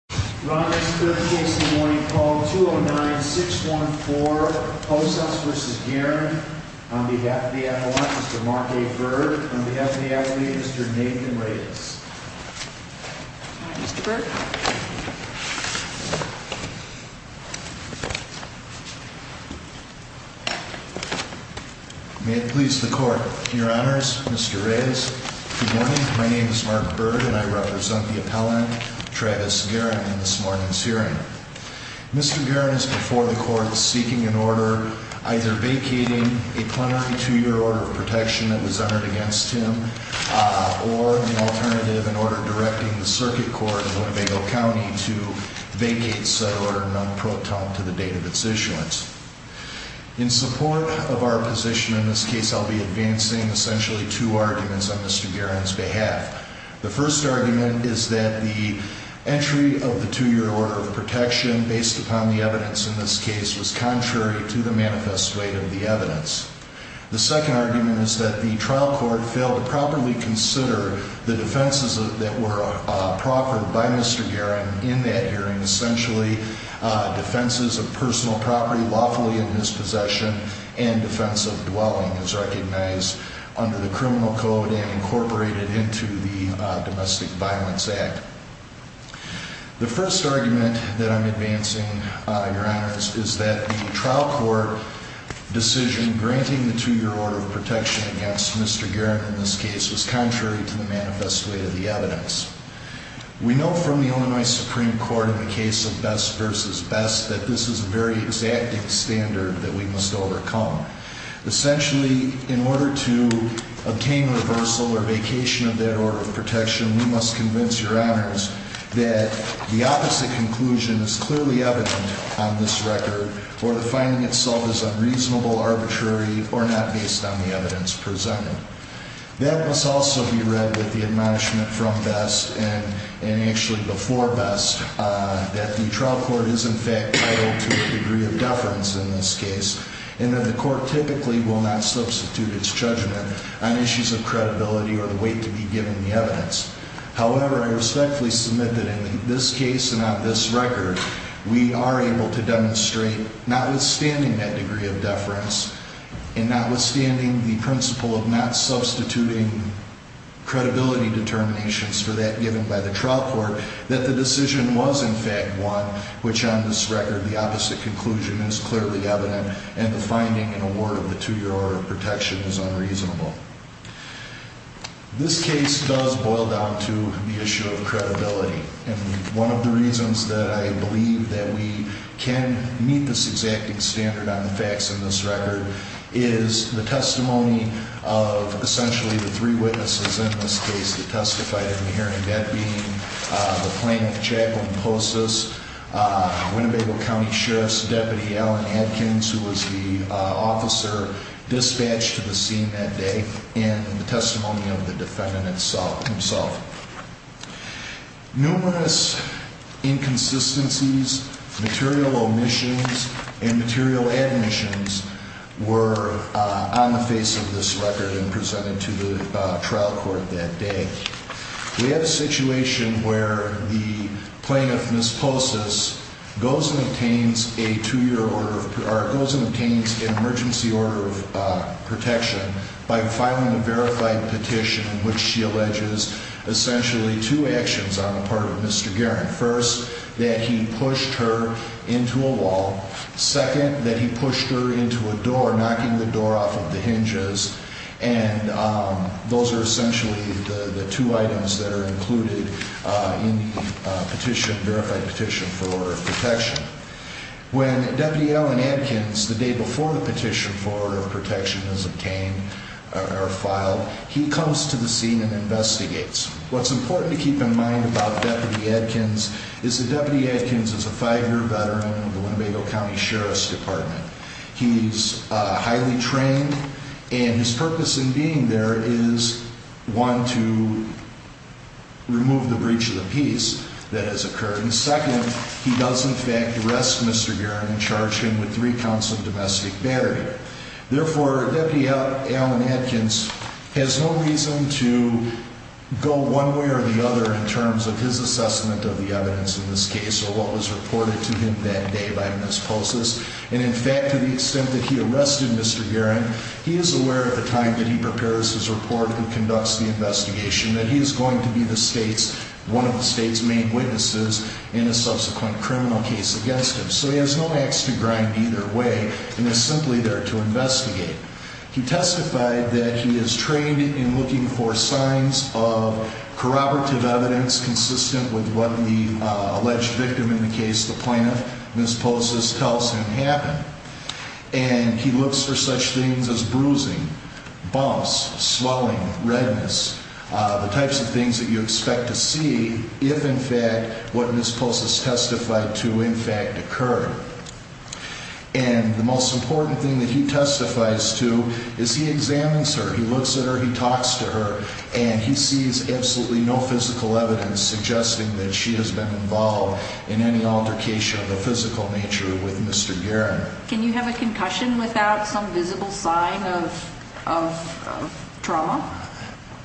On behalf of the appellate, Mr. Mark A. Byrd. On behalf of the appellate, Mr. Nathan Reyes. Good morning, Mr. Byrd. May it please the court, your honors, Mr. Reyes. Good morning, my name is Mark Byrd and I represent the appellant, Travis Guerin, in this morning's hearing. Mr. Guerin is before the court seeking an order either vacating a plenary two-year order of protection that was entered against him or the alternative, an order directing the circuit court in Winnebago County to vacate said order non-pro ton to the date of its issuance. In support of our position in this case, I'll be advancing essentially two arguments on Mr. Guerin's behalf. The first argument is that the entry of the two-year order of protection based upon the evidence in this case was contrary to the manifest weight of the evidence. The second argument is that the trial court failed to properly consider the defenses that were proffered by Mr. Guerin in that hearing. Essentially, defenses of personal property lawfully in his possession and defense of dwelling is recognized under the criminal code and incorporated into the Domestic Violence Act. The first argument that I'm advancing, your honors, is that the trial court decision granting the two-year order of protection against Mr. Guerin in this case was contrary to the manifest weight of the evidence. We know from the Illinois Supreme Court in the case of Best v. Best that this is a very exacting standard that we must overcome. Essentially, in order to obtain reversal or vacation of that order of protection, we must convince your honors that the opposite conclusion is clearly evident on this record or the finding itself is unreasonable, arbitrary, or not based on the evidence presented. That must also be read with the admonishment from Best and actually before Best that the trial court is in fact titled to a degree of deference in this case and that the court typically will not substitute its judgment on issues of credibility or the weight to be given the evidence. However, I respectfully submit that in this case and on this record, we are able to demonstrate, notwithstanding that degree of deference and notwithstanding the principle of not substituting credibility determinations for that given by the trial court, that the decision was in fact won, which on this record the opposite conclusion is clearly evident and the finding in a word of the two-year order of protection is unreasonable. This case does boil down to the issue of credibility and one of the reasons that I believe that we can meet this exacting standard on the facts in this record is the testimony of essentially the three witnesses in this case that testified in the hearing. That being the plaintiff, Chaplain Postas, Winnebago County Sheriff's Deputy Allen Adkins, who was the officer dispatched to the scene that day, and the testimony of the defendant himself. Numerous inconsistencies, material omissions, and material admissions were on the face of this record and presented to the trial court that day. We have a situation where the plaintiff, Ms. Postas, goes and obtains an emergency order of protection by filing a verified petition in which she alleges essentially two actions on the part of Mr. Guerin. First, that he pushed her into a wall. Second, that he pushed her into a door, knocking the door off of the hinges, and those are essentially the two items that are included in the petition, verified petition for order of protection. When Deputy Allen Adkins, the day before the petition for order of protection is obtained or filed, he comes to the scene and investigates. What's important to keep in mind about Deputy Adkins is that Deputy Adkins is a five-year veteran of the Winnebago County Sheriff's Department. He's highly trained, and his purpose in being there is, one, to remove the breach of the peace that has occurred, and second, he does in fact arrest Mr. Guerin and charge him with three counts of domestic battery. Therefore, Deputy Allen Adkins has no reason to go one way or the other in terms of his assessment of the evidence in this case or what was reported to him that day by Ms. Postas, and in fact, to the extent that he arrested Mr. Guerin, he is aware at the time that he prepares his report and conducts the investigation that he is going to be the state's, one of the state's main witnesses in a subsequent criminal case against him. So he has no axe to grind either way and is simply there to investigate. He testified that he is trained in looking for signs of corroborative evidence consistent with what the alleged victim in the case, the plaintiff, Ms. Postas, tells him happened, and he looks for such things as bruising, bumps, swelling, redness, the types of things that you expect to see if in fact what Ms. Postas testified to in fact occur. And the most important thing that he testifies to is he examines her, he looks at her, he talks to her, and he sees absolutely no physical evidence suggesting that she has been involved in any altercation of the physical nature with Mr. Guerin. Can you have a concussion without some visible sign of trauma?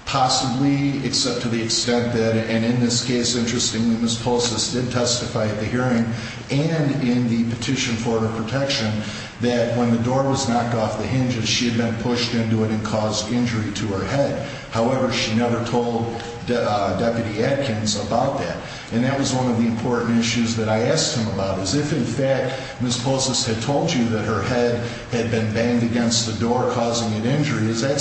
Possibly, except to the extent that, and in this case, interestingly, Ms. Postas did testify at the hearing and in the petition for her protection that when the door was knocked off the hinges, she had been pushed into it and caused injury to her head.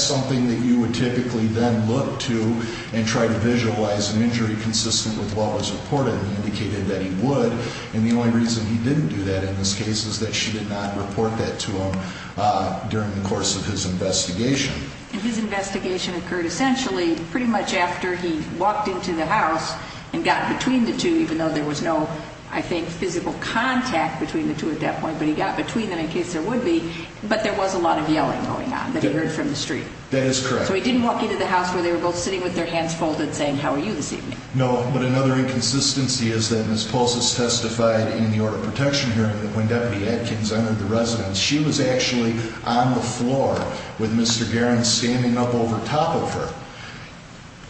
So he typically then looked to and tried to visualize an injury consistent with what was reported and indicated that he would, and the only reason he didn't do that in this case is that she did not report that to him during the course of his investigation. And his investigation occurred essentially pretty much after he walked into the house and got between the two, even though there was no, I think, physical contact between the two at that point, but he got between them in case there would be, but there was a lot of yelling going on that he heard from the street. That is correct. So he didn't walk into the house where they were both sitting with their hands folded saying, how are you this evening? No, but another inconsistency is that Ms. Postas testified in the order of protection hearing that when Deputy Adkins entered the residence, she was actually on the floor with Mr. Garins standing up over top of her.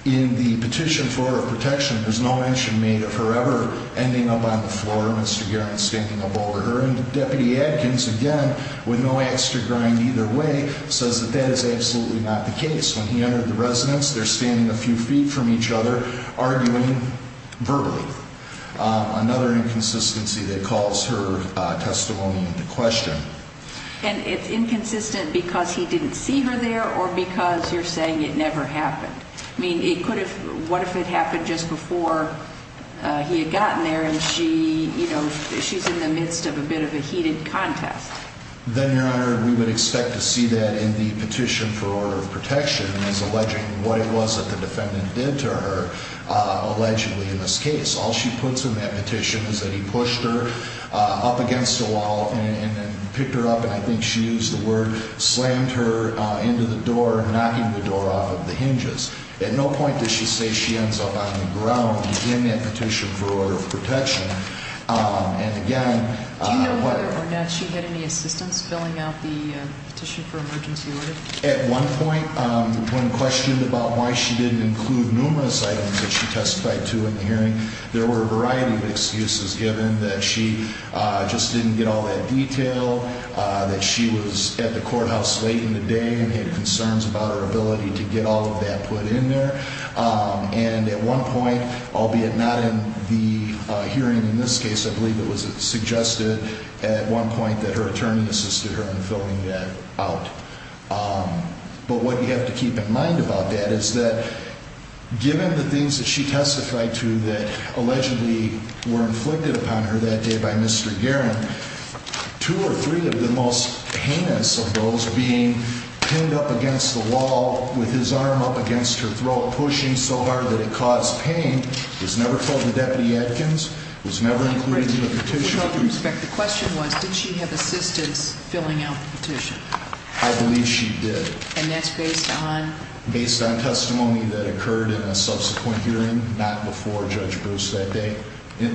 In the petition for her protection, there's no mention made of her ever ending up on the floor, Mr. Garins standing up over her, and Deputy Adkins, again, with no extra grind either way, says that that is absolutely not the case. When he entered the residence, they're standing a few feet from each other, arguing verbally. Another inconsistency that calls her testimony into question. And it's inconsistent because he didn't see her there or because you're saying it never happened? I mean, what if it happened just before he had gotten there and she's in the midst of a bit of a heated contest? Then, Your Honor, we would expect to see that in the petition for order of protection as alleging what it was that the defendant did to her allegedly in this case. All she puts in that petition is that he pushed her up against a wall and picked her up, and I think she used the word, slammed her into the door, knocking the door off of the hinges. At no point does she say she ends up on the ground in that petition for order of protection. And again- Do you know whether or not she had any assistance filling out the petition for emergency order? At one point, when questioned about why she didn't include numerous items that she testified to in the hearing, there were a variety of excuses given that she just didn't get all that detail, that she was at the courthouse late in the day and had concerns about her ability to get all of that put in there. And at one point, albeit not in the hearing in this case, I believe it was suggested at one point that her attorney assisted her in filling that out. But what you have to keep in mind about that is that, given the things that she testified to that allegedly were inflicted upon her that day by Mr. Garin, two or three of the most heinous of those being pinned up against the wall with his arm up against her throat, pushing so hard that it caused pain, was never told to Deputy Atkins, was never included in the petition. With all due respect, the question was, did she have assistance filling out the petition? I believe she did. And that's based on- Based on testimony that occurred in a subsequent hearing, not before Judge Bruce that day,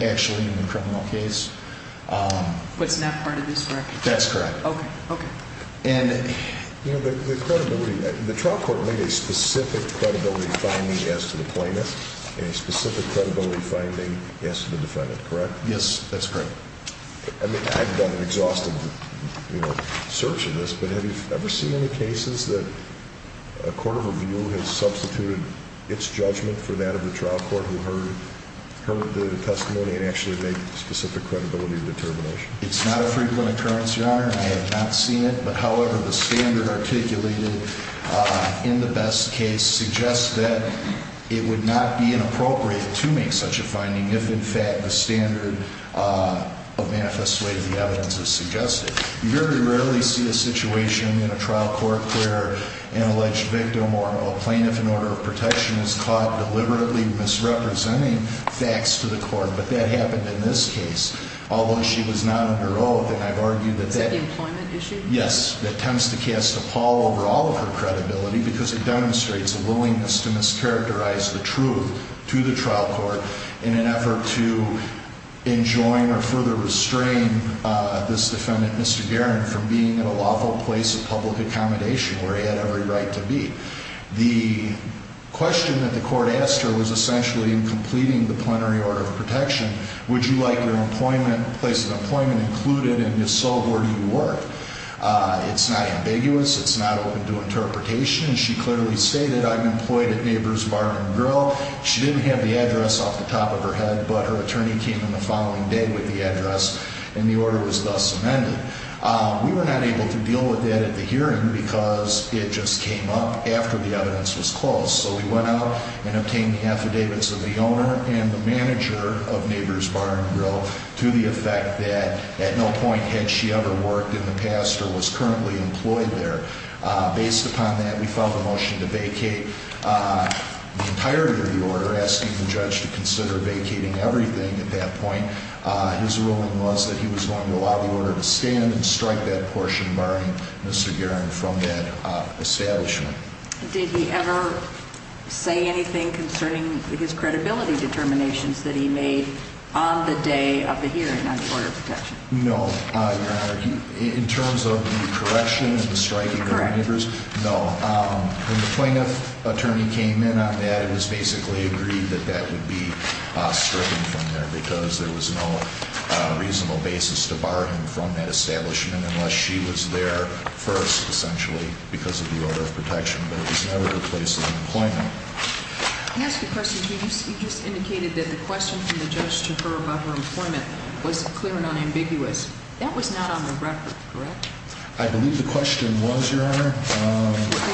actually in the criminal case. But it's not part of this record? That's correct. Okay, okay. And- You know, the credibility, the trial court made a specific credibility finding as to the plaintiff and a specific credibility finding as to the defendant, correct? Yes, that's correct. I mean, I've done an exhaustive, you know, search of this, but have you ever seen any cases that a court of review has substituted its judgment for that of the trial court who heard the testimony and actually made specific credibility determination? It's not a frequent occurrence, Your Honor, and I have not seen it. But however, the standard articulated in the best case suggests that it would not be inappropriate to make such a finding if, in fact, the standard of manifest way of the evidence is suggested. You very rarely see a situation in a trial court where an alleged victim or a plaintiff in order of protection is caught deliberately misrepresenting facts to the court. But that happened in this case. Although she was not under oath, and I've argued that that- Is that the employment issue? Yes, that tends to cast a pall over all of her credibility because it demonstrates a willingness to mischaracterize the truth to the trial court in an effort to enjoin or further restrain this defendant, Mr. Garin, from being in a lawful place of public accommodation where he had every right to be. The question that the court asked her was essentially completing the plenary order of protection. Would you like your employment, place of employment included, and if so, where do you work? It's not ambiguous. It's not open to interpretation. And she clearly stated, I'm employed at Neighbors Bar and Grill. She didn't have the address off the top of her head, but her attorney came in the following day with the address, and the order was thus amended. We were not able to deal with that at the hearing because it just came up after the evidence was closed. So we went out and obtained the affidavits of the owner and the manager of Neighbors Bar and Grill to the effect that at no point had she ever worked in the past or was currently employed there. Based upon that, we filed a motion to vacate the entirety of the order, asking the judge to consider vacating everything at that point. His ruling was that he was going to allow the order to stand and strike that portion, barring Mr. Guerin from that establishment. Did he ever say anything concerning his credibility determinations that he made on the day of the hearing on the order of protection? No, Your Honor. In terms of the correction and the striking of neighbors? Correct. No. When the plaintiff attorney came in on that, it was basically agreed that that would be stricken from there because there was no reasonable basis to bar him from that establishment unless she was there first, essentially, because of the order of protection. But it was never the place of employment. Can I ask you a question, too? You just indicated that the question from the judge to her about her employment was clear and unambiguous. That was not on the record, correct? I believe the question was, Your Honor.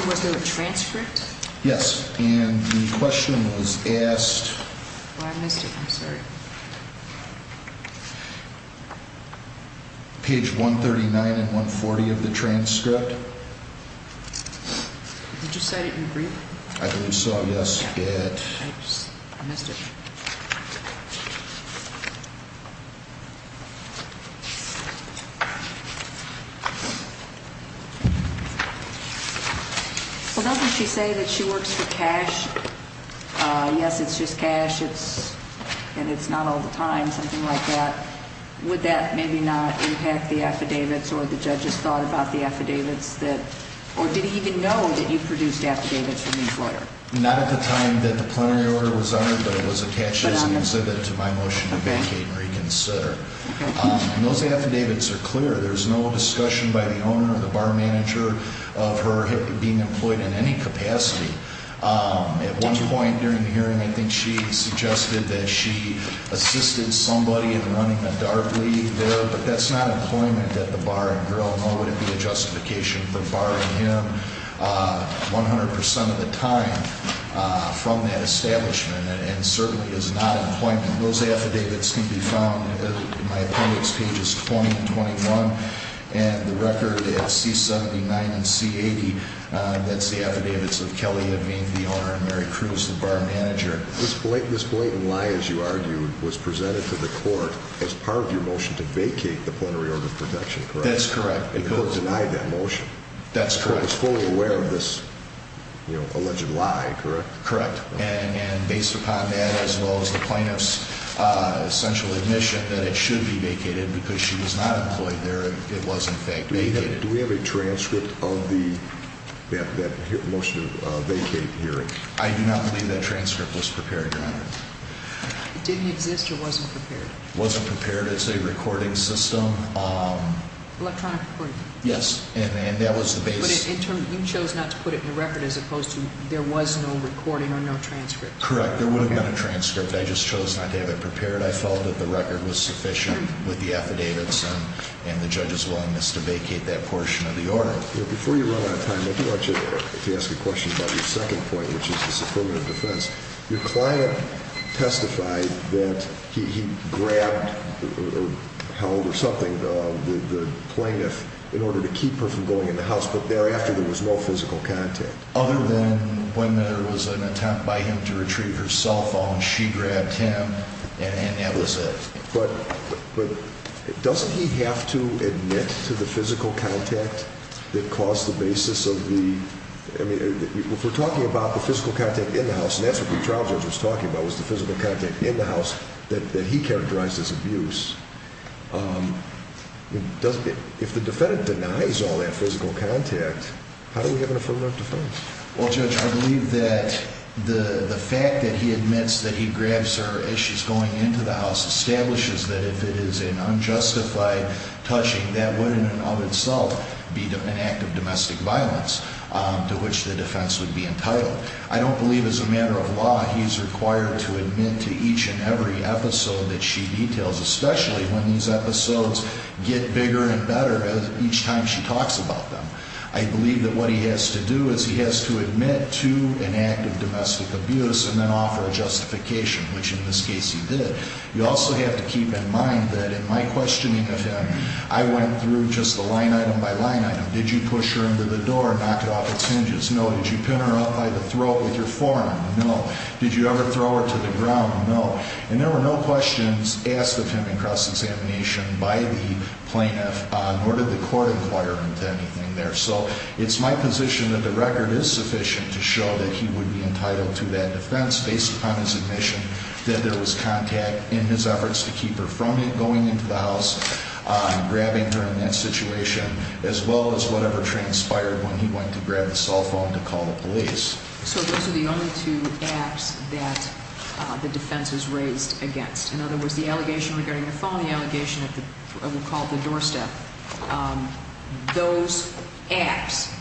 Was there a transcript? Yes. And the question was asked. Oh, I missed it. I'm sorry. Page 139 and 140 of the transcript. Did you cite it in brief? I believe so, yes. I missed it. Well, doesn't she say that she works for cash? Yes, it's just cash. And it's not all the time, something like that. Would that maybe not impact the affidavits or the judge's thought about the affidavits or did he even know that you produced affidavits from his lawyer? Not at the time that the plenary order was honored, but it was a case that was considered. Okay. And those affidavits are clear. There's no discussion by the owner or the bar manager of her being employed in any capacity. At one point during the hearing, I think she suggested that she assisted somebody in running a dart league there, but that's not employment at the bar and grill, nor would it be a justification for barring him 100% of the time from that establishment. And it certainly is not employment. Those affidavits can be found in my appendix, pages 20 and 21, and the record is C79 and C80. That's the affidavits of Kelly of being the owner and Mary Cruz the bar manager. This blatant lie, as you argued, was presented to the court as part of your motion to vacate the plenary order of protection, correct? That's correct. And the court denied that motion. That's correct. The court was fully aware of this alleged lie, correct? Correct. And based upon that, as well as the plaintiff's essential admission that it should be vacated because she was not employed there, it was in fact vacated. Do we have a transcript of that motion to vacate hearing? I do not believe that transcript was prepared, Your Honor. It didn't exist or wasn't prepared? It wasn't prepared. It's a recording system. Electronic recording? Yes, and that was the base. You chose not to put it in the record as opposed to there was no recording or no transcript. Correct. There would have been a transcript. I just chose not to have it prepared. I felt that the record was sufficient with the affidavits and the judge's willingness to vacate that portion of the order. Before you run out of time, I do want you to ask a question about your second point, which is the affirmative defense. Your client testified that he grabbed or held or something the plaintiff in order to keep her from going in the house, but thereafter there was no physical contact. Other than when there was an attempt by him to retrieve her cell phone, she grabbed him, and that was it. But doesn't he have to admit to the physical contact that caused the basis of the – if we're talking about the physical contact in the house, and that's what the trial judge was talking about, was the physical contact in the house that he characterized as abuse, if the defendant denies all that physical contact, how do we have an affirmative defense? Well, Judge, I believe that the fact that he admits that he grabs her as she's going into the house establishes that if it is an unjustified touching, that would in and of itself be an act of domestic violence to which the defense would be entitled. I don't believe as a matter of law he's required to admit to each and every episode that she details, especially when these episodes get bigger and better each time she talks about them. I believe that what he has to do is he has to admit to an act of domestic abuse and then offer a justification, which in this case he did. You also have to keep in mind that in my questioning of him, I went through just the line item by line item. Did you push her into the door and knock it off its hinges? No. Did you pin her up by the throat with your forearm? No. Did you ever throw her to the ground? No. And there were no questions asked of him in cross-examination by the plaintiff, nor did the court inquire into anything there. So it's my position that the record is sufficient to show that he would be entitled to that defense based upon his admission that there was contact in his efforts to keep her from going into the house, grabbing her in that situation, as well as whatever transpired when he went to grab the cell phone to call the police. So those are the only two acts that the defense was raised against. In other words, the allegation regarding the phone, the allegation of what we'll call the doorstep, those acts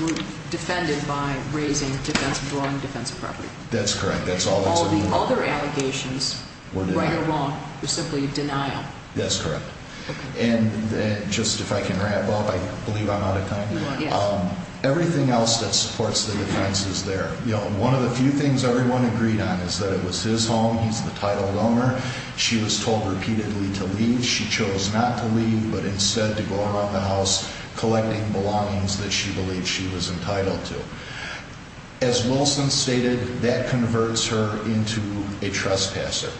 were defended by raising defense, drawing defense of property. That's correct. That's all. All the other allegations, right or wrong, were simply denial. That's correct. And just if I can wrap up, I believe I'm out of time. Everything else that supports the defense is there. One of the few things everyone agreed on is that it was his home, he's the title owner. She was told repeatedly to leave. She chose not to leave, but instead to go around the house collecting belongings that she believed she was entitled to. As Wilson stated, that converts her into a trespasser.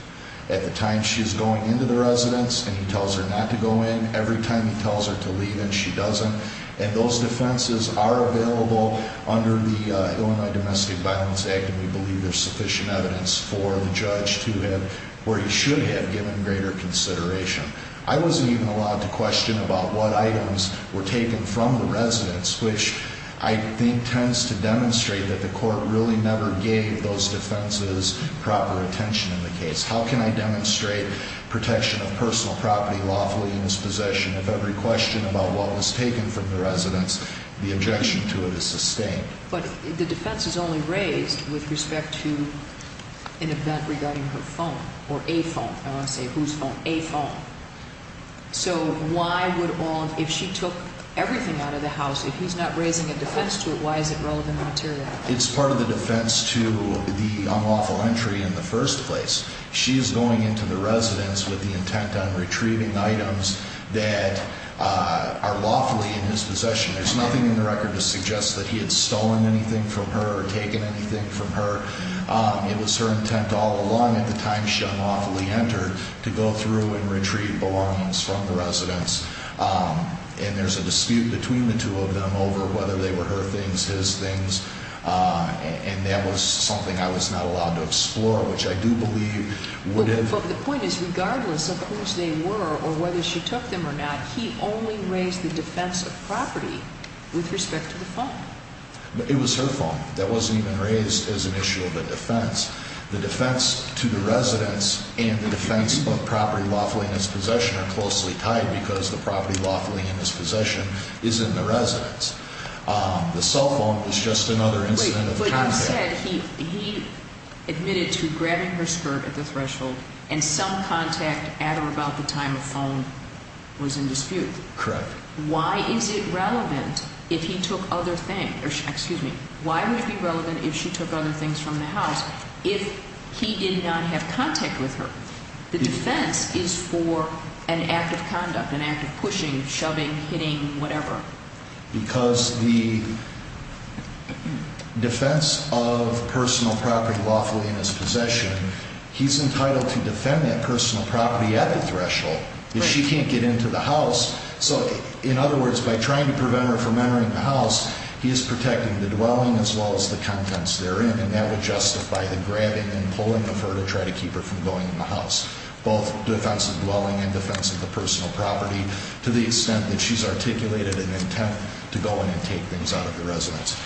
At the time she's going into the residence and he tells her not to go in, every time he tells her to leave and she doesn't. And those defenses are available under the Illinois Domestic Violence Act, and we believe there's sufficient evidence for the judge to have, or he should have, given greater consideration. I wasn't even allowed to question about what items were taken from the residence, which I think tends to demonstrate that the court really never gave those defenses proper attention in the case. How can I demonstrate protection of personal property lawfully in this possession if every question about what was taken from the residence, the objection to it is sustained? But the defense is only raised with respect to an event regarding her phone, or a phone. I don't want to say whose phone, a phone. So why would all, if she took everything out of the house, if he's not raising a defense to it, why is it relevant material? It's part of the defense to the unlawful entry in the first place. She is going into the residence with the intent on retrieving items that are lawfully in his possession. There's nothing in the record to suggest that he had stolen anything from her or taken anything from her. It was her intent all along at the time she unlawfully entered to go through and retrieve belongings from the residence. And there's a dispute between the two of them over whether they were her things, his things. And that was something I was not allowed to explore, which I do believe would have... But the point is, regardless of whose they were or whether she took them or not, he only raised the defense of property with respect to the phone. It was her phone that wasn't even raised as an issue of a defense. The defense to the residence and the defense of property lawfully in his possession are closely tied because the property lawfully in his possession is in the residence. The cell phone was just another incident of the kind there. Wait, but you said he admitted to grabbing her skirt at the threshold and some contact at or about the time of phone was in dispute. Correct. Why is it relevant if he took other things? Excuse me. Why would it be relevant if she took other things from the house if he did not have contact with her? The defense is for an act of conduct, an act of pushing, shoving, hitting, whatever. Because the defense of personal property lawfully in his possession, he's entitled to defend that personal property at the threshold. If she can't get into the house, so in other words, by trying to prevent her from entering the house, he is protecting the dwelling as well as the contents therein. And that would justify the grabbing and pulling of her to try to keep her from going in the house. Both defense of dwelling and defense of the personal property to the extent that she's articulated an intent to go in and take things out of the residence.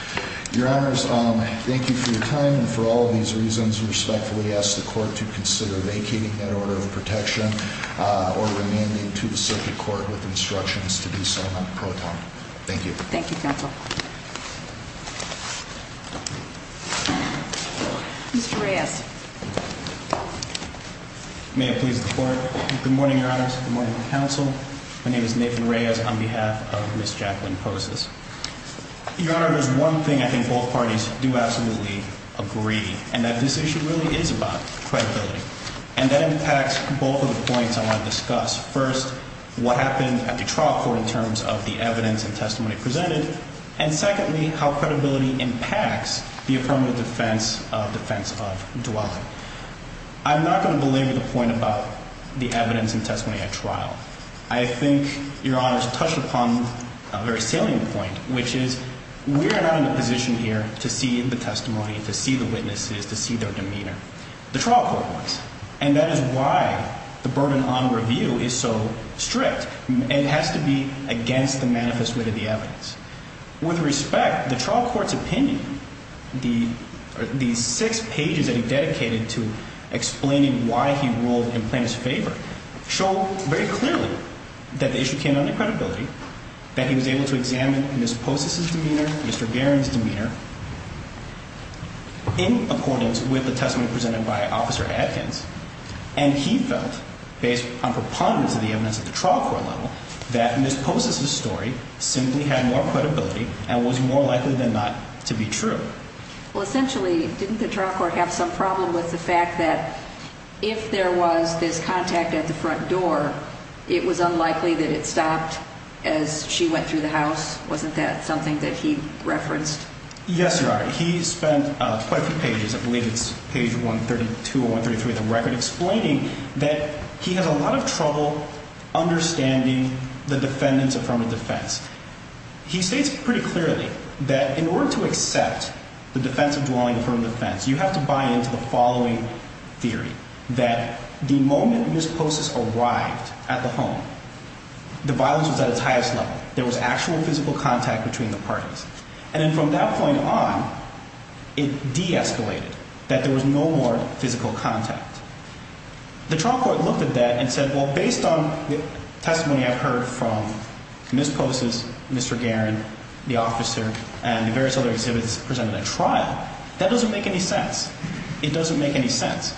Your honors, thank you for your time. And for all of these reasons, respectfully ask the court to consider vacating that order of protection or remaining to the circuit court with instructions to do so not pro tempore. Thank you. Thank you, counsel. Mr. Reyes. May it please the court. Good morning, your honors. Good morning, counsel. My name is Nathan Reyes on behalf of Ms. Jacqueline Poses. Your honor, there's one thing I think both parties do absolutely agree, and that this issue really is about credibility. And that impacts both of the points I want to discuss. First, what happened at the trial court in terms of the evidence and testimony presented. And secondly, how credibility impacts the affirmative defense of defense of dwelling. I'm not going to belabor the point about the evidence and testimony at trial. I think your honors touched upon a very salient point, which is we are not in a position here to see the testimony, to see the witnesses, to see their demeanor. The trial court was. And that is why the burden on review is so strict. It has to be against the manifest wit of the evidence. With respect, the trial court's opinion, the six pages that he dedicated to explaining why he ruled in plaintiff's favor, show very clearly that the issue came down to credibility. That he was able to examine Ms. Poses' demeanor, Mr. Guerin's demeanor, in accordance with the testimony presented by Officer Adkins. And he felt, based on preponderance of the evidence at the trial court level, that Ms. Poses' story simply had more credibility and was more likely than not to be true. Well, essentially, didn't the trial court have some problem with the fact that if there was this contact at the front door, it was unlikely that it stopped as she went through the house? Wasn't that something that he referenced? Yes, your honor. He spent quite a few pages, I believe it's page 132 or 133 of the record, explaining that he had a lot of trouble understanding the defendant's affirmative defense. He states pretty clearly that in order to accept the defense of dwelling affirmative defense, you have to buy into the following theory. That the moment Ms. Poses arrived at the home, the violence was at its highest level. There was actual physical contact between the parties. And then from that point on, it de-escalated, that there was no more physical contact. The trial court looked at that and said, well, based on the testimony I've heard from Ms. Poses, Mr. Guerin, the officer, and the various other exhibits presented at trial, that doesn't make any sense. It doesn't make any sense.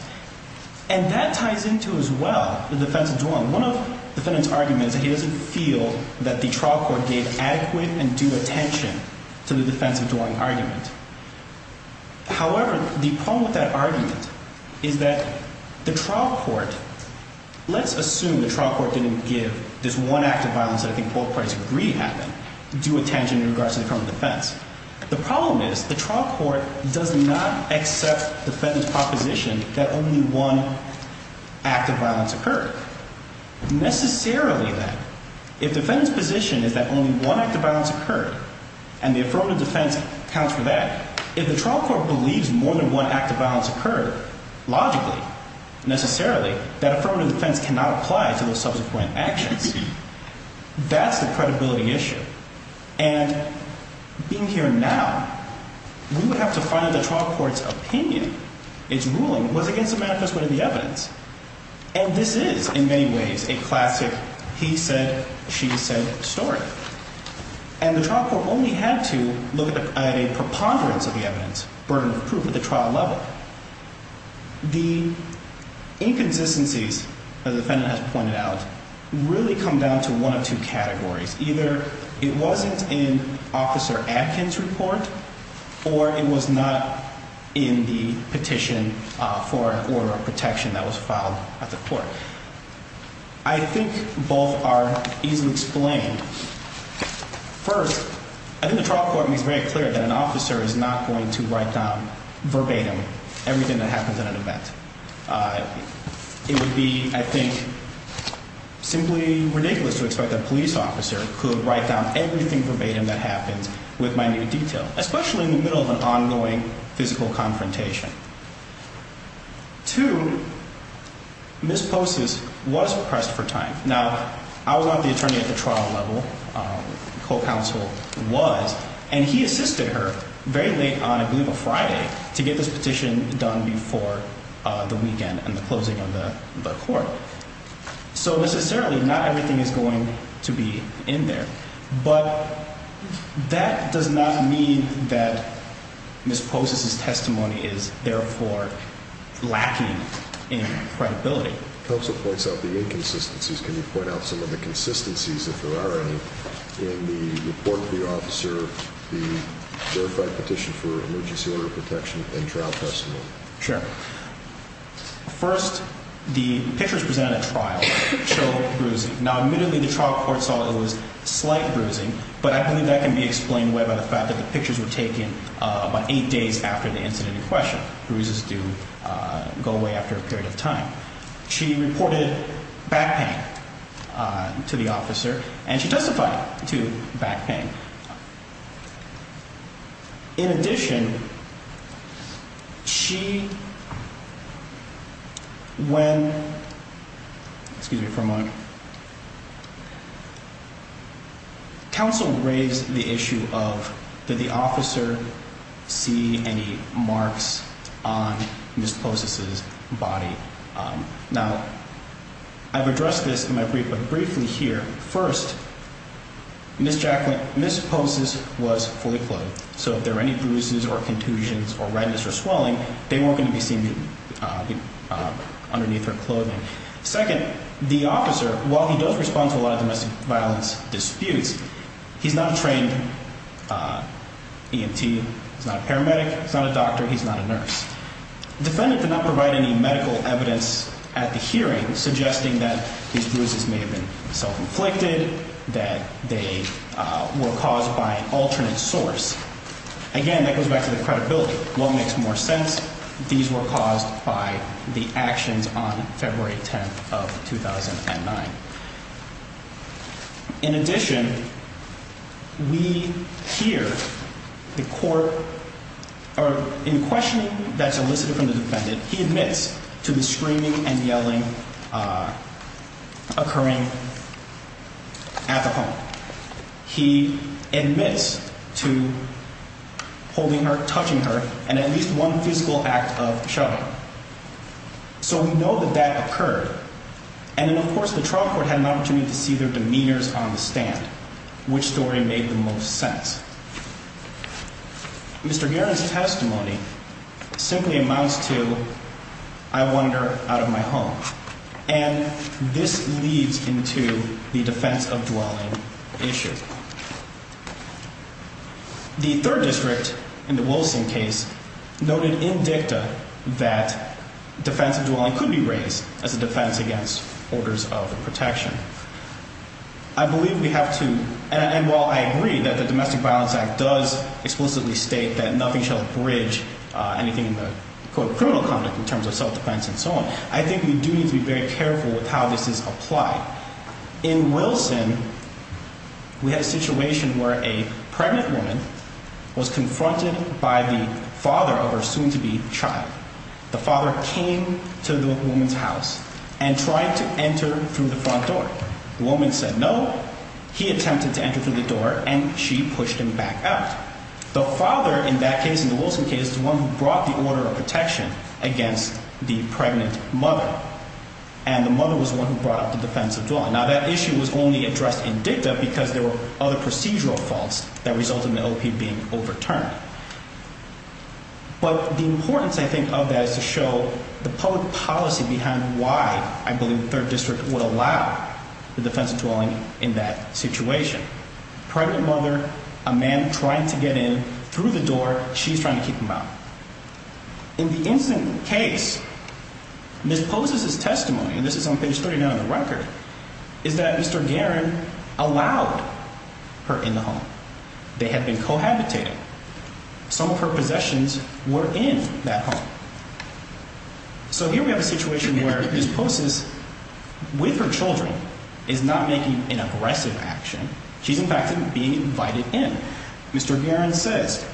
And that ties into, as well, the defense of dwelling. One of the defendant's arguments is that he doesn't feel that the trial court gave adequate and due attention to the defense of dwelling argument. However, the problem with that argument is that the trial court, let's assume the trial court didn't give this one act of violence that I think both parties agree happened, due attention in regards to the criminal defense. The problem is the trial court does not accept the defendant's proposition that only one act of violence occurred. Necessarily, then, if the defendant's position is that only one act of violence occurred, and the affirmative defense accounts for that, if the trial court believes more than one act of violence occurred, logically, necessarily, that affirmative defense cannot apply to those subsequent actions. That's the credibility issue. And being here now, we would have to find that the trial court's opinion, its ruling, was against the manifestation of the evidence. And this is, in many ways, a classic he said, she said story. And the trial court only had to look at a preponderance of the evidence, burden of proof, at the trial level. The inconsistencies, as the defendant has pointed out, really come down to one of two categories. Either it wasn't in Officer Atkins' report, or it was not in the petition for an order of protection that was filed at the court. I think both are easily explained. First, I think the trial court makes very clear that an officer is not going to write down verbatim everything that happens in an event. It would be, I think, simply ridiculous to expect that a police officer could write down everything verbatim that happens with minute detail, especially in the middle of an ongoing physical confrontation. Two, Ms. Postas was pressed for time. Now, I was not the attorney at the trial level. The co-counsel was. And he assisted her very late on, I believe, a Friday to get this petition done before the weekend and the closing of the court. So necessarily, not everything is going to be in there. But that does not mean that Ms. Postas' testimony is, therefore, lacking in credibility. Counsel points out the inconsistencies. Can you point out some of the consistencies, if there are any, in the report to the officer, the verified petition for emergency order of protection, and trial testimony? Sure. First, the pictures presented at trial show bruising. Now, admittedly, the trial court saw it was slight bruising. But I believe that can be explained by the fact that the pictures were taken about eight days after the incident in question. So bruises do go away after a period of time. She reported back pain to the officer, and she testified to back pain. In addition, she, when, excuse me for a moment, counsel raised the issue of did the officer see any marks on Ms. Postas' body? Now, I've addressed this in my brief, but briefly here. First, Ms. Postas was fully clothed. So if there were any bruises or contusions or redness or swelling, they weren't going to be seen underneath her clothing. Second, the officer, while he does respond to a lot of domestic violence disputes, he's not a trained EMT. He's not a paramedic. He's not a doctor. He's not a nurse. The defendant did not provide any medical evidence at the hearing suggesting that these bruises may have been self-inflicted, that they were caused by an alternate source. Again, that goes back to the credibility. What makes more sense? These were caused by the actions on February 10th of 2009. In addition, we hear the court, or in questioning that's elicited from the defendant, he admits to the screaming and yelling occurring at the home. He admits to holding her, touching her, and at least one physical act of shoving. So we know that that occurred. And then, of course, the trial court had an opportunity to see their demeanors on the stand. Which story made the most sense? Mr. Guerin's testimony simply amounts to, I wanted her out of my home. And this leads into the defense of dwelling issue. The third district in the Wilson case noted in dicta that defense of dwelling could be raised as a defense against orders of protection. I believe we have to, and while I agree that the Domestic Violence Act does explicitly state that nothing shall bridge anything in the, quote, criminal context in terms of self-defense and so on, I think we do need to be very careful with how this is applied. In Wilson, we had a situation where a pregnant woman was confronted by the father of her soon-to-be child. The father came to the woman's house and tried to enter through the front door. The woman said no. He attempted to enter through the door, and she pushed him back out. The father in that case, in the Wilson case, is the one who brought the order of protection against the pregnant mother. And the mother was the one who brought up the defense of dwelling. Now, that issue was only addressed in dicta because there were other procedural faults that resulted in the O.P. being overturned. But the importance, I think, of that is to show the public policy behind why I believe the third district would allow the defense of dwelling in that situation. Pregnant mother, a man trying to get in through the door, she's trying to keep him out. In the instant case, Ms. Pozes' testimony, and this is on page 39 of the record, is that Mr. Guerin allowed her in the home. They had been cohabitating. Some of her possessions were in that home. So here we have a situation where Ms. Pozes, with her children, is not making an aggressive action. She's, in fact, being invited in. Mr. Guerin says,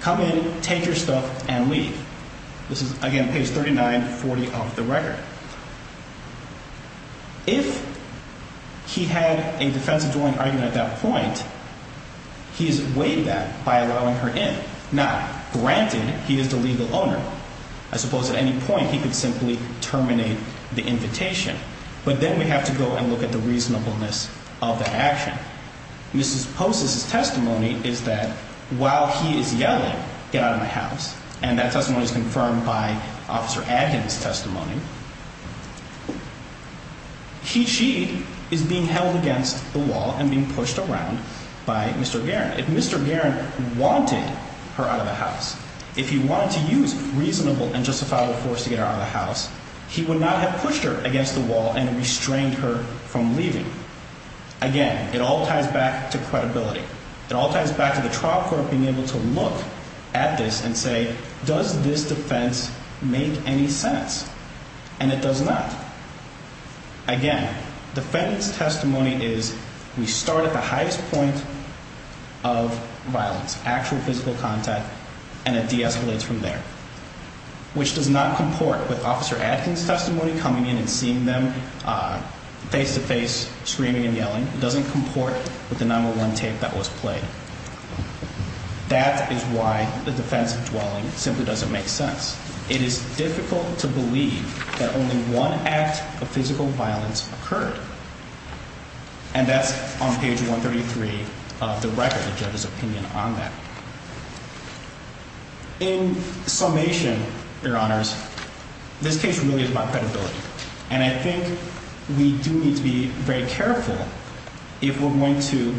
come in, take your stuff, and leave. This is, again, page 3940 of the record. If he had a defense of dwelling argument at that point, he's weighed that by allowing her in. Now, granted, he is the legal owner. I suppose at any point he could simply terminate the invitation. But then we have to go and look at the reasonableness of the action. Ms. Pozes' testimony is that while he is yelling, get out of my house, and that testimony is confirmed by Officer Adkins' testimony, she is being held against the wall and being pushed around by Mr. Guerin. If Mr. Guerin wanted her out of the house, if he wanted to use reasonable and justifiable force to get her out of the house, he would not have pushed her against the wall and restrained her from leaving. Again, it all ties back to credibility. It all ties back to the trial court being able to look at this and say, does this defense make any sense? And it does not. Again, defendant's testimony is we start at the highest point of violence, actual physical contact, and it de-escalates from there, which does not comport with Officer Adkins' testimony, coming in and seeing them face-to-face, screaming and yelling. It doesn't comport with the 9-1-1 tape that was played. That is why the defense of dwelling simply doesn't make sense. It is difficult to believe that only one act of physical violence occurred, and that's on page 133 of the record, the judge's opinion on that. In summation, Your Honors, this case really is about credibility. And I think we do need to be very careful if we're going to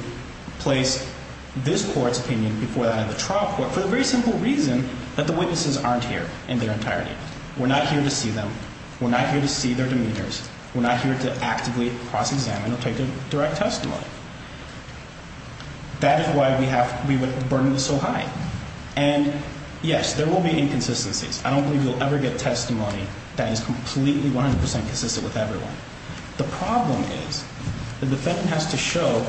place this court's opinion before that of the trial court for the very simple reason that the witnesses aren't here in their entirety. We're not here to see them. We're not here to see their demeanors. We're not here to actively cross-examine or take a direct testimony. That is why we would burden this so high. And, yes, there will be inconsistencies. I don't believe you'll ever get testimony that is completely, 100 percent consistent with everyone. The problem is the defendant has to show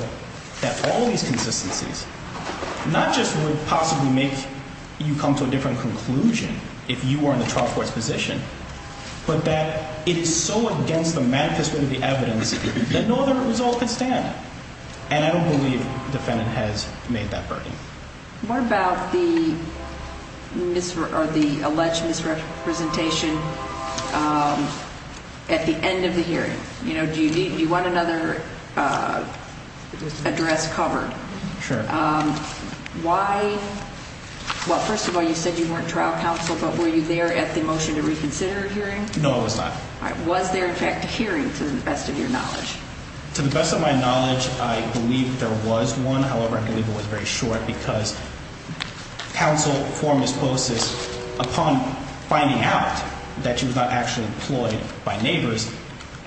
that all these consistencies not just would possibly make you come to a different conclusion if you were in the trial court's position, but that it is so against the manifesto of the evidence that no other result could stand. And I don't believe the defendant has made that burden. What about the alleged misrepresentation at the end of the hearing? Do you want another address covered? Sure. Why? Well, first of all, you said you weren't trial counsel, but were you there at the motion to reconsider hearing? No, I was not. Was there, in fact, a hearing, to the best of your knowledge? To the best of my knowledge, I believe there was one. However, I believe it was very short because counsel for Ms. Postis, upon finding out that she was not actually employed by neighbors,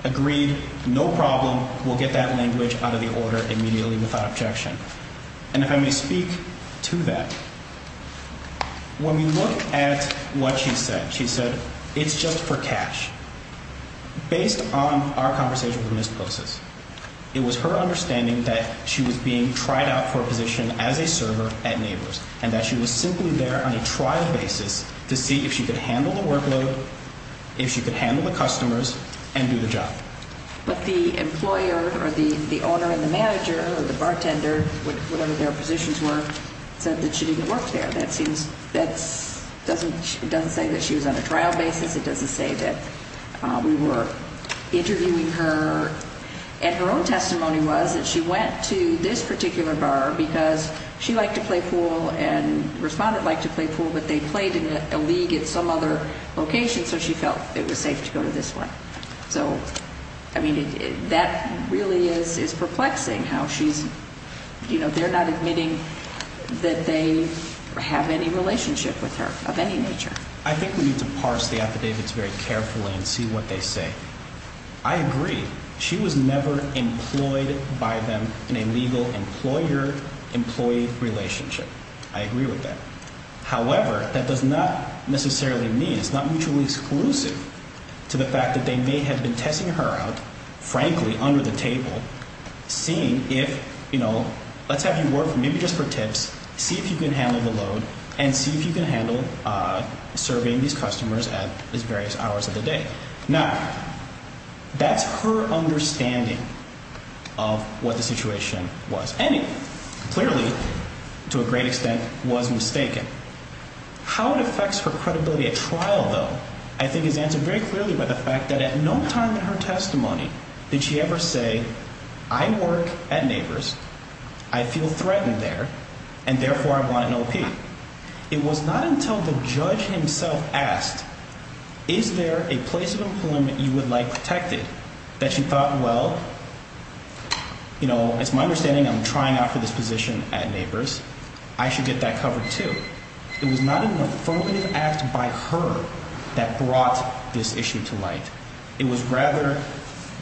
agreed, no problem, we'll get that language out of the order immediately without objection. And if I may speak to that, when we look at what she said, she said it's just for cash. Based on our conversation with Ms. Postis, it was her understanding that she was being tried out for a position as a server at neighbors and that she was simply there on a trial basis to see if she could handle the workload, if she could handle the customers and do the job. But the employer or the owner and the manager or the bartender, whatever their positions were, said that she didn't work there. That doesn't say that she was on a trial basis. It doesn't say that we were interviewing her. And her own testimony was that she went to this particular bar because she liked to play pool and respondents like to play pool, but they played in a league at some other location, so she felt it was safe to go to this one. So, I mean, that really is perplexing how she's, you know, they're not admitting that they have any relationship with her of any nature. I think we need to parse the affidavits very carefully and see what they say. I agree. She was never employed by them in a legal employer employee relationship. I agree with that. However, that does not necessarily mean, it's not mutually exclusive to the fact that they may have been testing her out, frankly, under the table, seeing if, you know, let's have you work maybe just for tips, see if you can handle the load, and see if you can handle serving these customers at these various hours of the day. Now, that's her understanding of what the situation was. Clearly, to a great extent, was mistaken. How it affects her credibility at trial, though, I think is answered very clearly by the fact that at no time in her testimony did she ever say, I work at Neighbors, I feel threatened there, and therefore I want an OP. It was not until the judge himself asked, is there a place of employment you would like protected, that she thought, well, you know, it's my understanding I'm trying out for this position at Neighbors. I should get that covered too. It was not an affirmative act by her that brought this issue to light. It was rather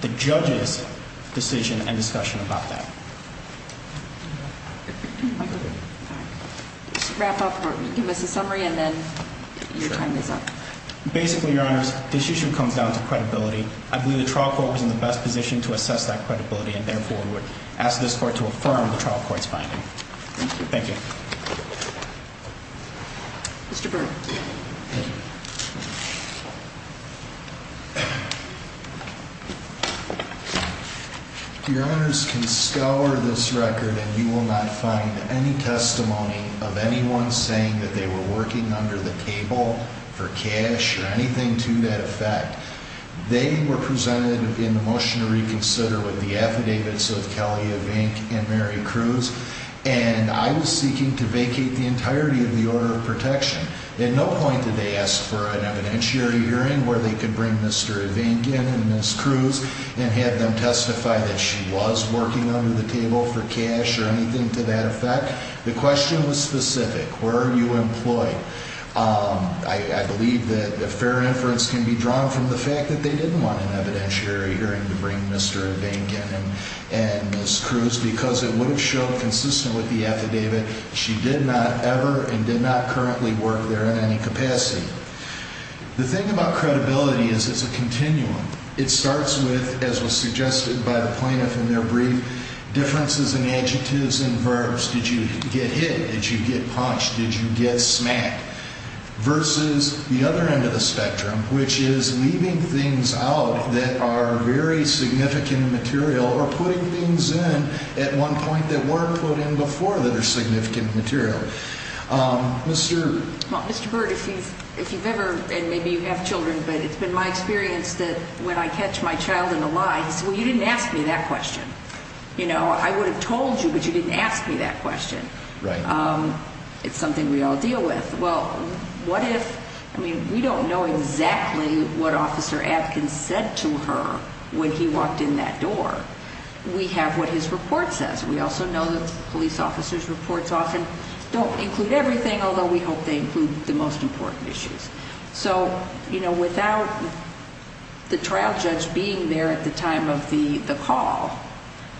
the judge's decision and discussion about that. Can you just wrap up or give us a summary, and then your time is up. Basically, Your Honors, this issue comes down to credibility. I believe the trial court was in the best position to assess that credibility and, therefore, would ask this court to affirm the trial court's finding. Thank you. Thank you. Mr. Burr. Thank you. Your Honors can scour this record and you will not find any testimony of anyone saying that they were working under the table for cash or anything to that effect. They were presented in the motion to reconsider with the affidavits of Kelly Evink and Mary Cruz, and I was seeking to vacate the entirety of the order of protection. At no point did they ask for an evidentiary hearing where they could bring Mr. Evink in and Ms. Cruz and have them testify that she was working under the table for cash or anything to that effect. The question was specific. Where are you employed? I believe that a fair inference can be drawn from the fact that they didn't want an evidentiary hearing to bring Mr. Evink in and Ms. Cruz, because it would have shown, consistent with the affidavit, she did not ever and did not currently work there in any capacity. The thing about credibility is it's a continuum. It starts with, as was suggested by the plaintiff in their brief, differences in adjectives and verbs. Did you get hit? Did you get punched? Did you get smacked? Versus the other end of the spectrum, which is leaving things out that are very significant material or putting things in at one point that weren't put in before that are significant material. Mr. Well, Mr. Burt, if you've ever, and maybe you have children, but it's been my experience that when I catch my child in a lie, he says, well, you didn't ask me that question. You know, I would have told you, but you didn't ask me that question. Right. It's something we all deal with. Well, what if, I mean, we don't know exactly what Officer Atkins said to her when he walked in that door. We have what his report says. We also know that police officers' reports often don't include everything, although we hope they include the most important issues. So, you know, without the trial judge being there at the time of the call,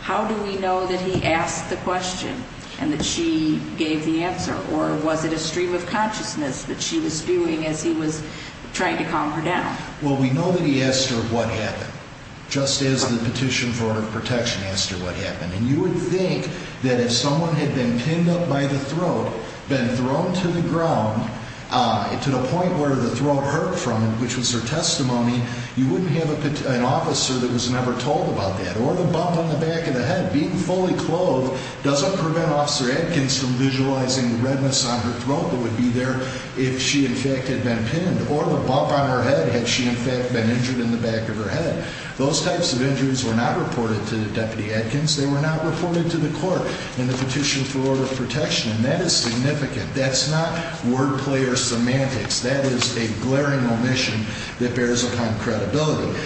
how do we know that he asked the question and that she gave the answer? Or was it a stream of consciousness that she was spewing as he was trying to calm her down? Well, we know that he asked her what happened, just as the petition for protection asked her what happened. And you would think that if someone had been pinned up by the throat, been thrown to the ground to the point where the throat hurt from it, which was her testimony, you wouldn't have an officer that was never told about that. Or the bump on the back of the head. Being fully clothed doesn't prevent Officer Atkins from visualizing the redness on her throat that would be there if she, in fact, had been pinned. Or the bump on her head, had she, in fact, been injured in the back of her head. Those types of injuries were not reported to the Deputy Atkins. They were not reported to the court in the petition for order of protection. And that is significant. That's not word player semantics. That is a glaring omission that bears upon credibility.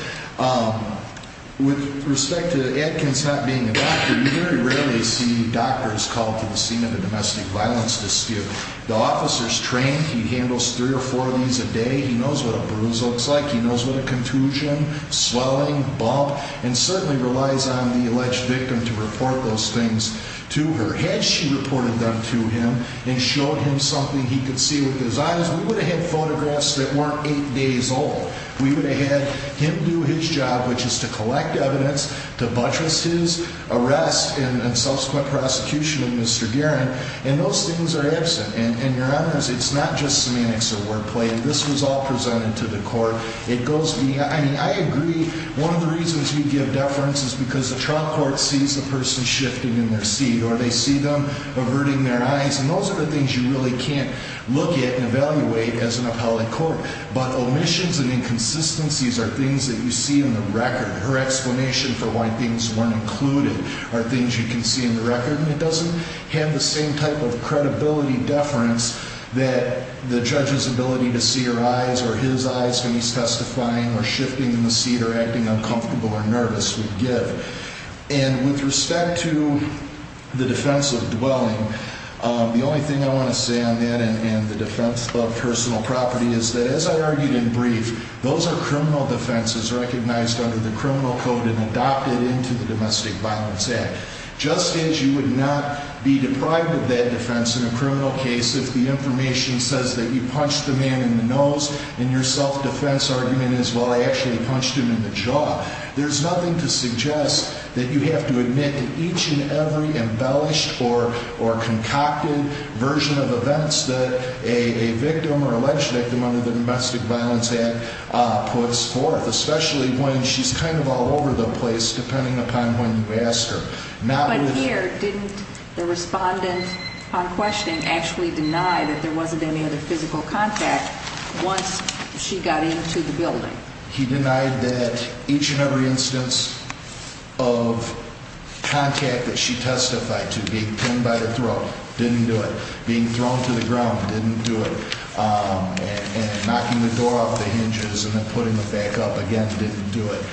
With respect to Atkins not being a doctor, you very rarely see doctors called to the scene of a domestic violence dispute. The officer's trained. He handles three or four of these a day. He knows what a bruise looks like. He knows what a contusion, swelling, bump, and certainly relies on the alleged victim to report those things to her. Had she reported them to him and showed him something he could see with his eyes, we would have had photographs that weren't eight days old. We would have had him do his job, which is to collect evidence to buttress his arrest and subsequent prosecution of Mr. Guerin. And those things are absent. And, Your Honors, it's not just semantics or word play. This was all presented to the court. It goes beyond. I agree. One of the reasons you give deference is because the trial court sees the person shifting in their seat or they see them averting their eyes. And those are the things you really can't look at and evaluate as an appellate court. But omissions and inconsistencies are things that you see in the record. Her explanation for why things weren't included are things you can see in the record. And it doesn't have the same type of credibility deference that the judge's ability to see her eyes or his eyes when he's testifying or shifting in the seat or acting uncomfortable or nervous would give. And with respect to the defense of dwelling, the only thing I want to say on that and the defense of personal property is that, as I argued in brief, those are criminal defenses recognized under the criminal code and adopted into the Domestic Violence Act. Just as you would not be deprived of that defense in a criminal case if the information says that you punched the man in the nose and your self-defense argument is, well, I actually punched him in the jaw, there's nothing to suggest that you have to admit to each and every embellished or concocted version of events that a victim or alleged victim under the Domestic Violence Act puts forth, especially when she's kind of all over the place, depending upon when you ask her. But here, didn't the respondent on question actually deny that there wasn't any other physical contact once she got into the building? He denied that each and every instance of contact that she testified to, being pinned by the throat, didn't do it, being thrown to the ground didn't do it, and knocking the door off the hinges and then putting it back up again didn't do it.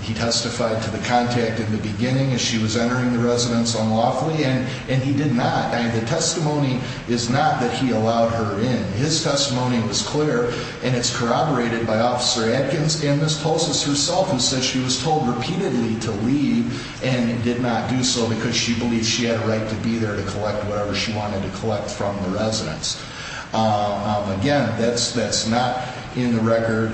He testified to the contact in the beginning as she was entering the residence unlawfully, and he did not. The testimony is not that he allowed her in. His testimony was clear, and it's corroborated by Officer Adkins and Ms. Tolsis herself, that she was told repeatedly to leave and did not do so because she believed she had a right to be there to collect whatever she wanted to collect from the residence. Again, that's not in the record.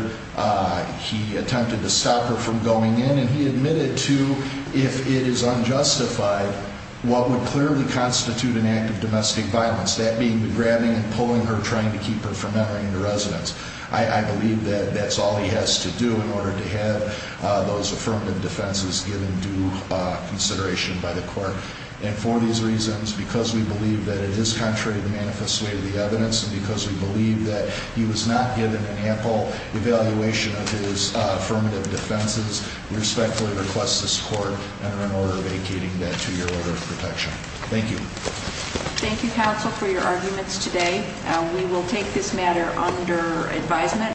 He attempted to stop her from going in, and he admitted to, if it is unjustified, what would clearly constitute an act of domestic violence, that being the grabbing and pulling her, trying to keep her from entering the residence. I believe that that's all he has to do in order to have those affirmative defenses given due consideration by the court. And for these reasons, because we believe that it is contrary to the manifest way of the evidence, and because we believe that he was not given an ample evaluation of his affirmative defenses, we respectfully request this court enter an order vacating that two-year order of protection. Thank you. Thank you, counsel, for your arguments today. We will take this matter under advisement.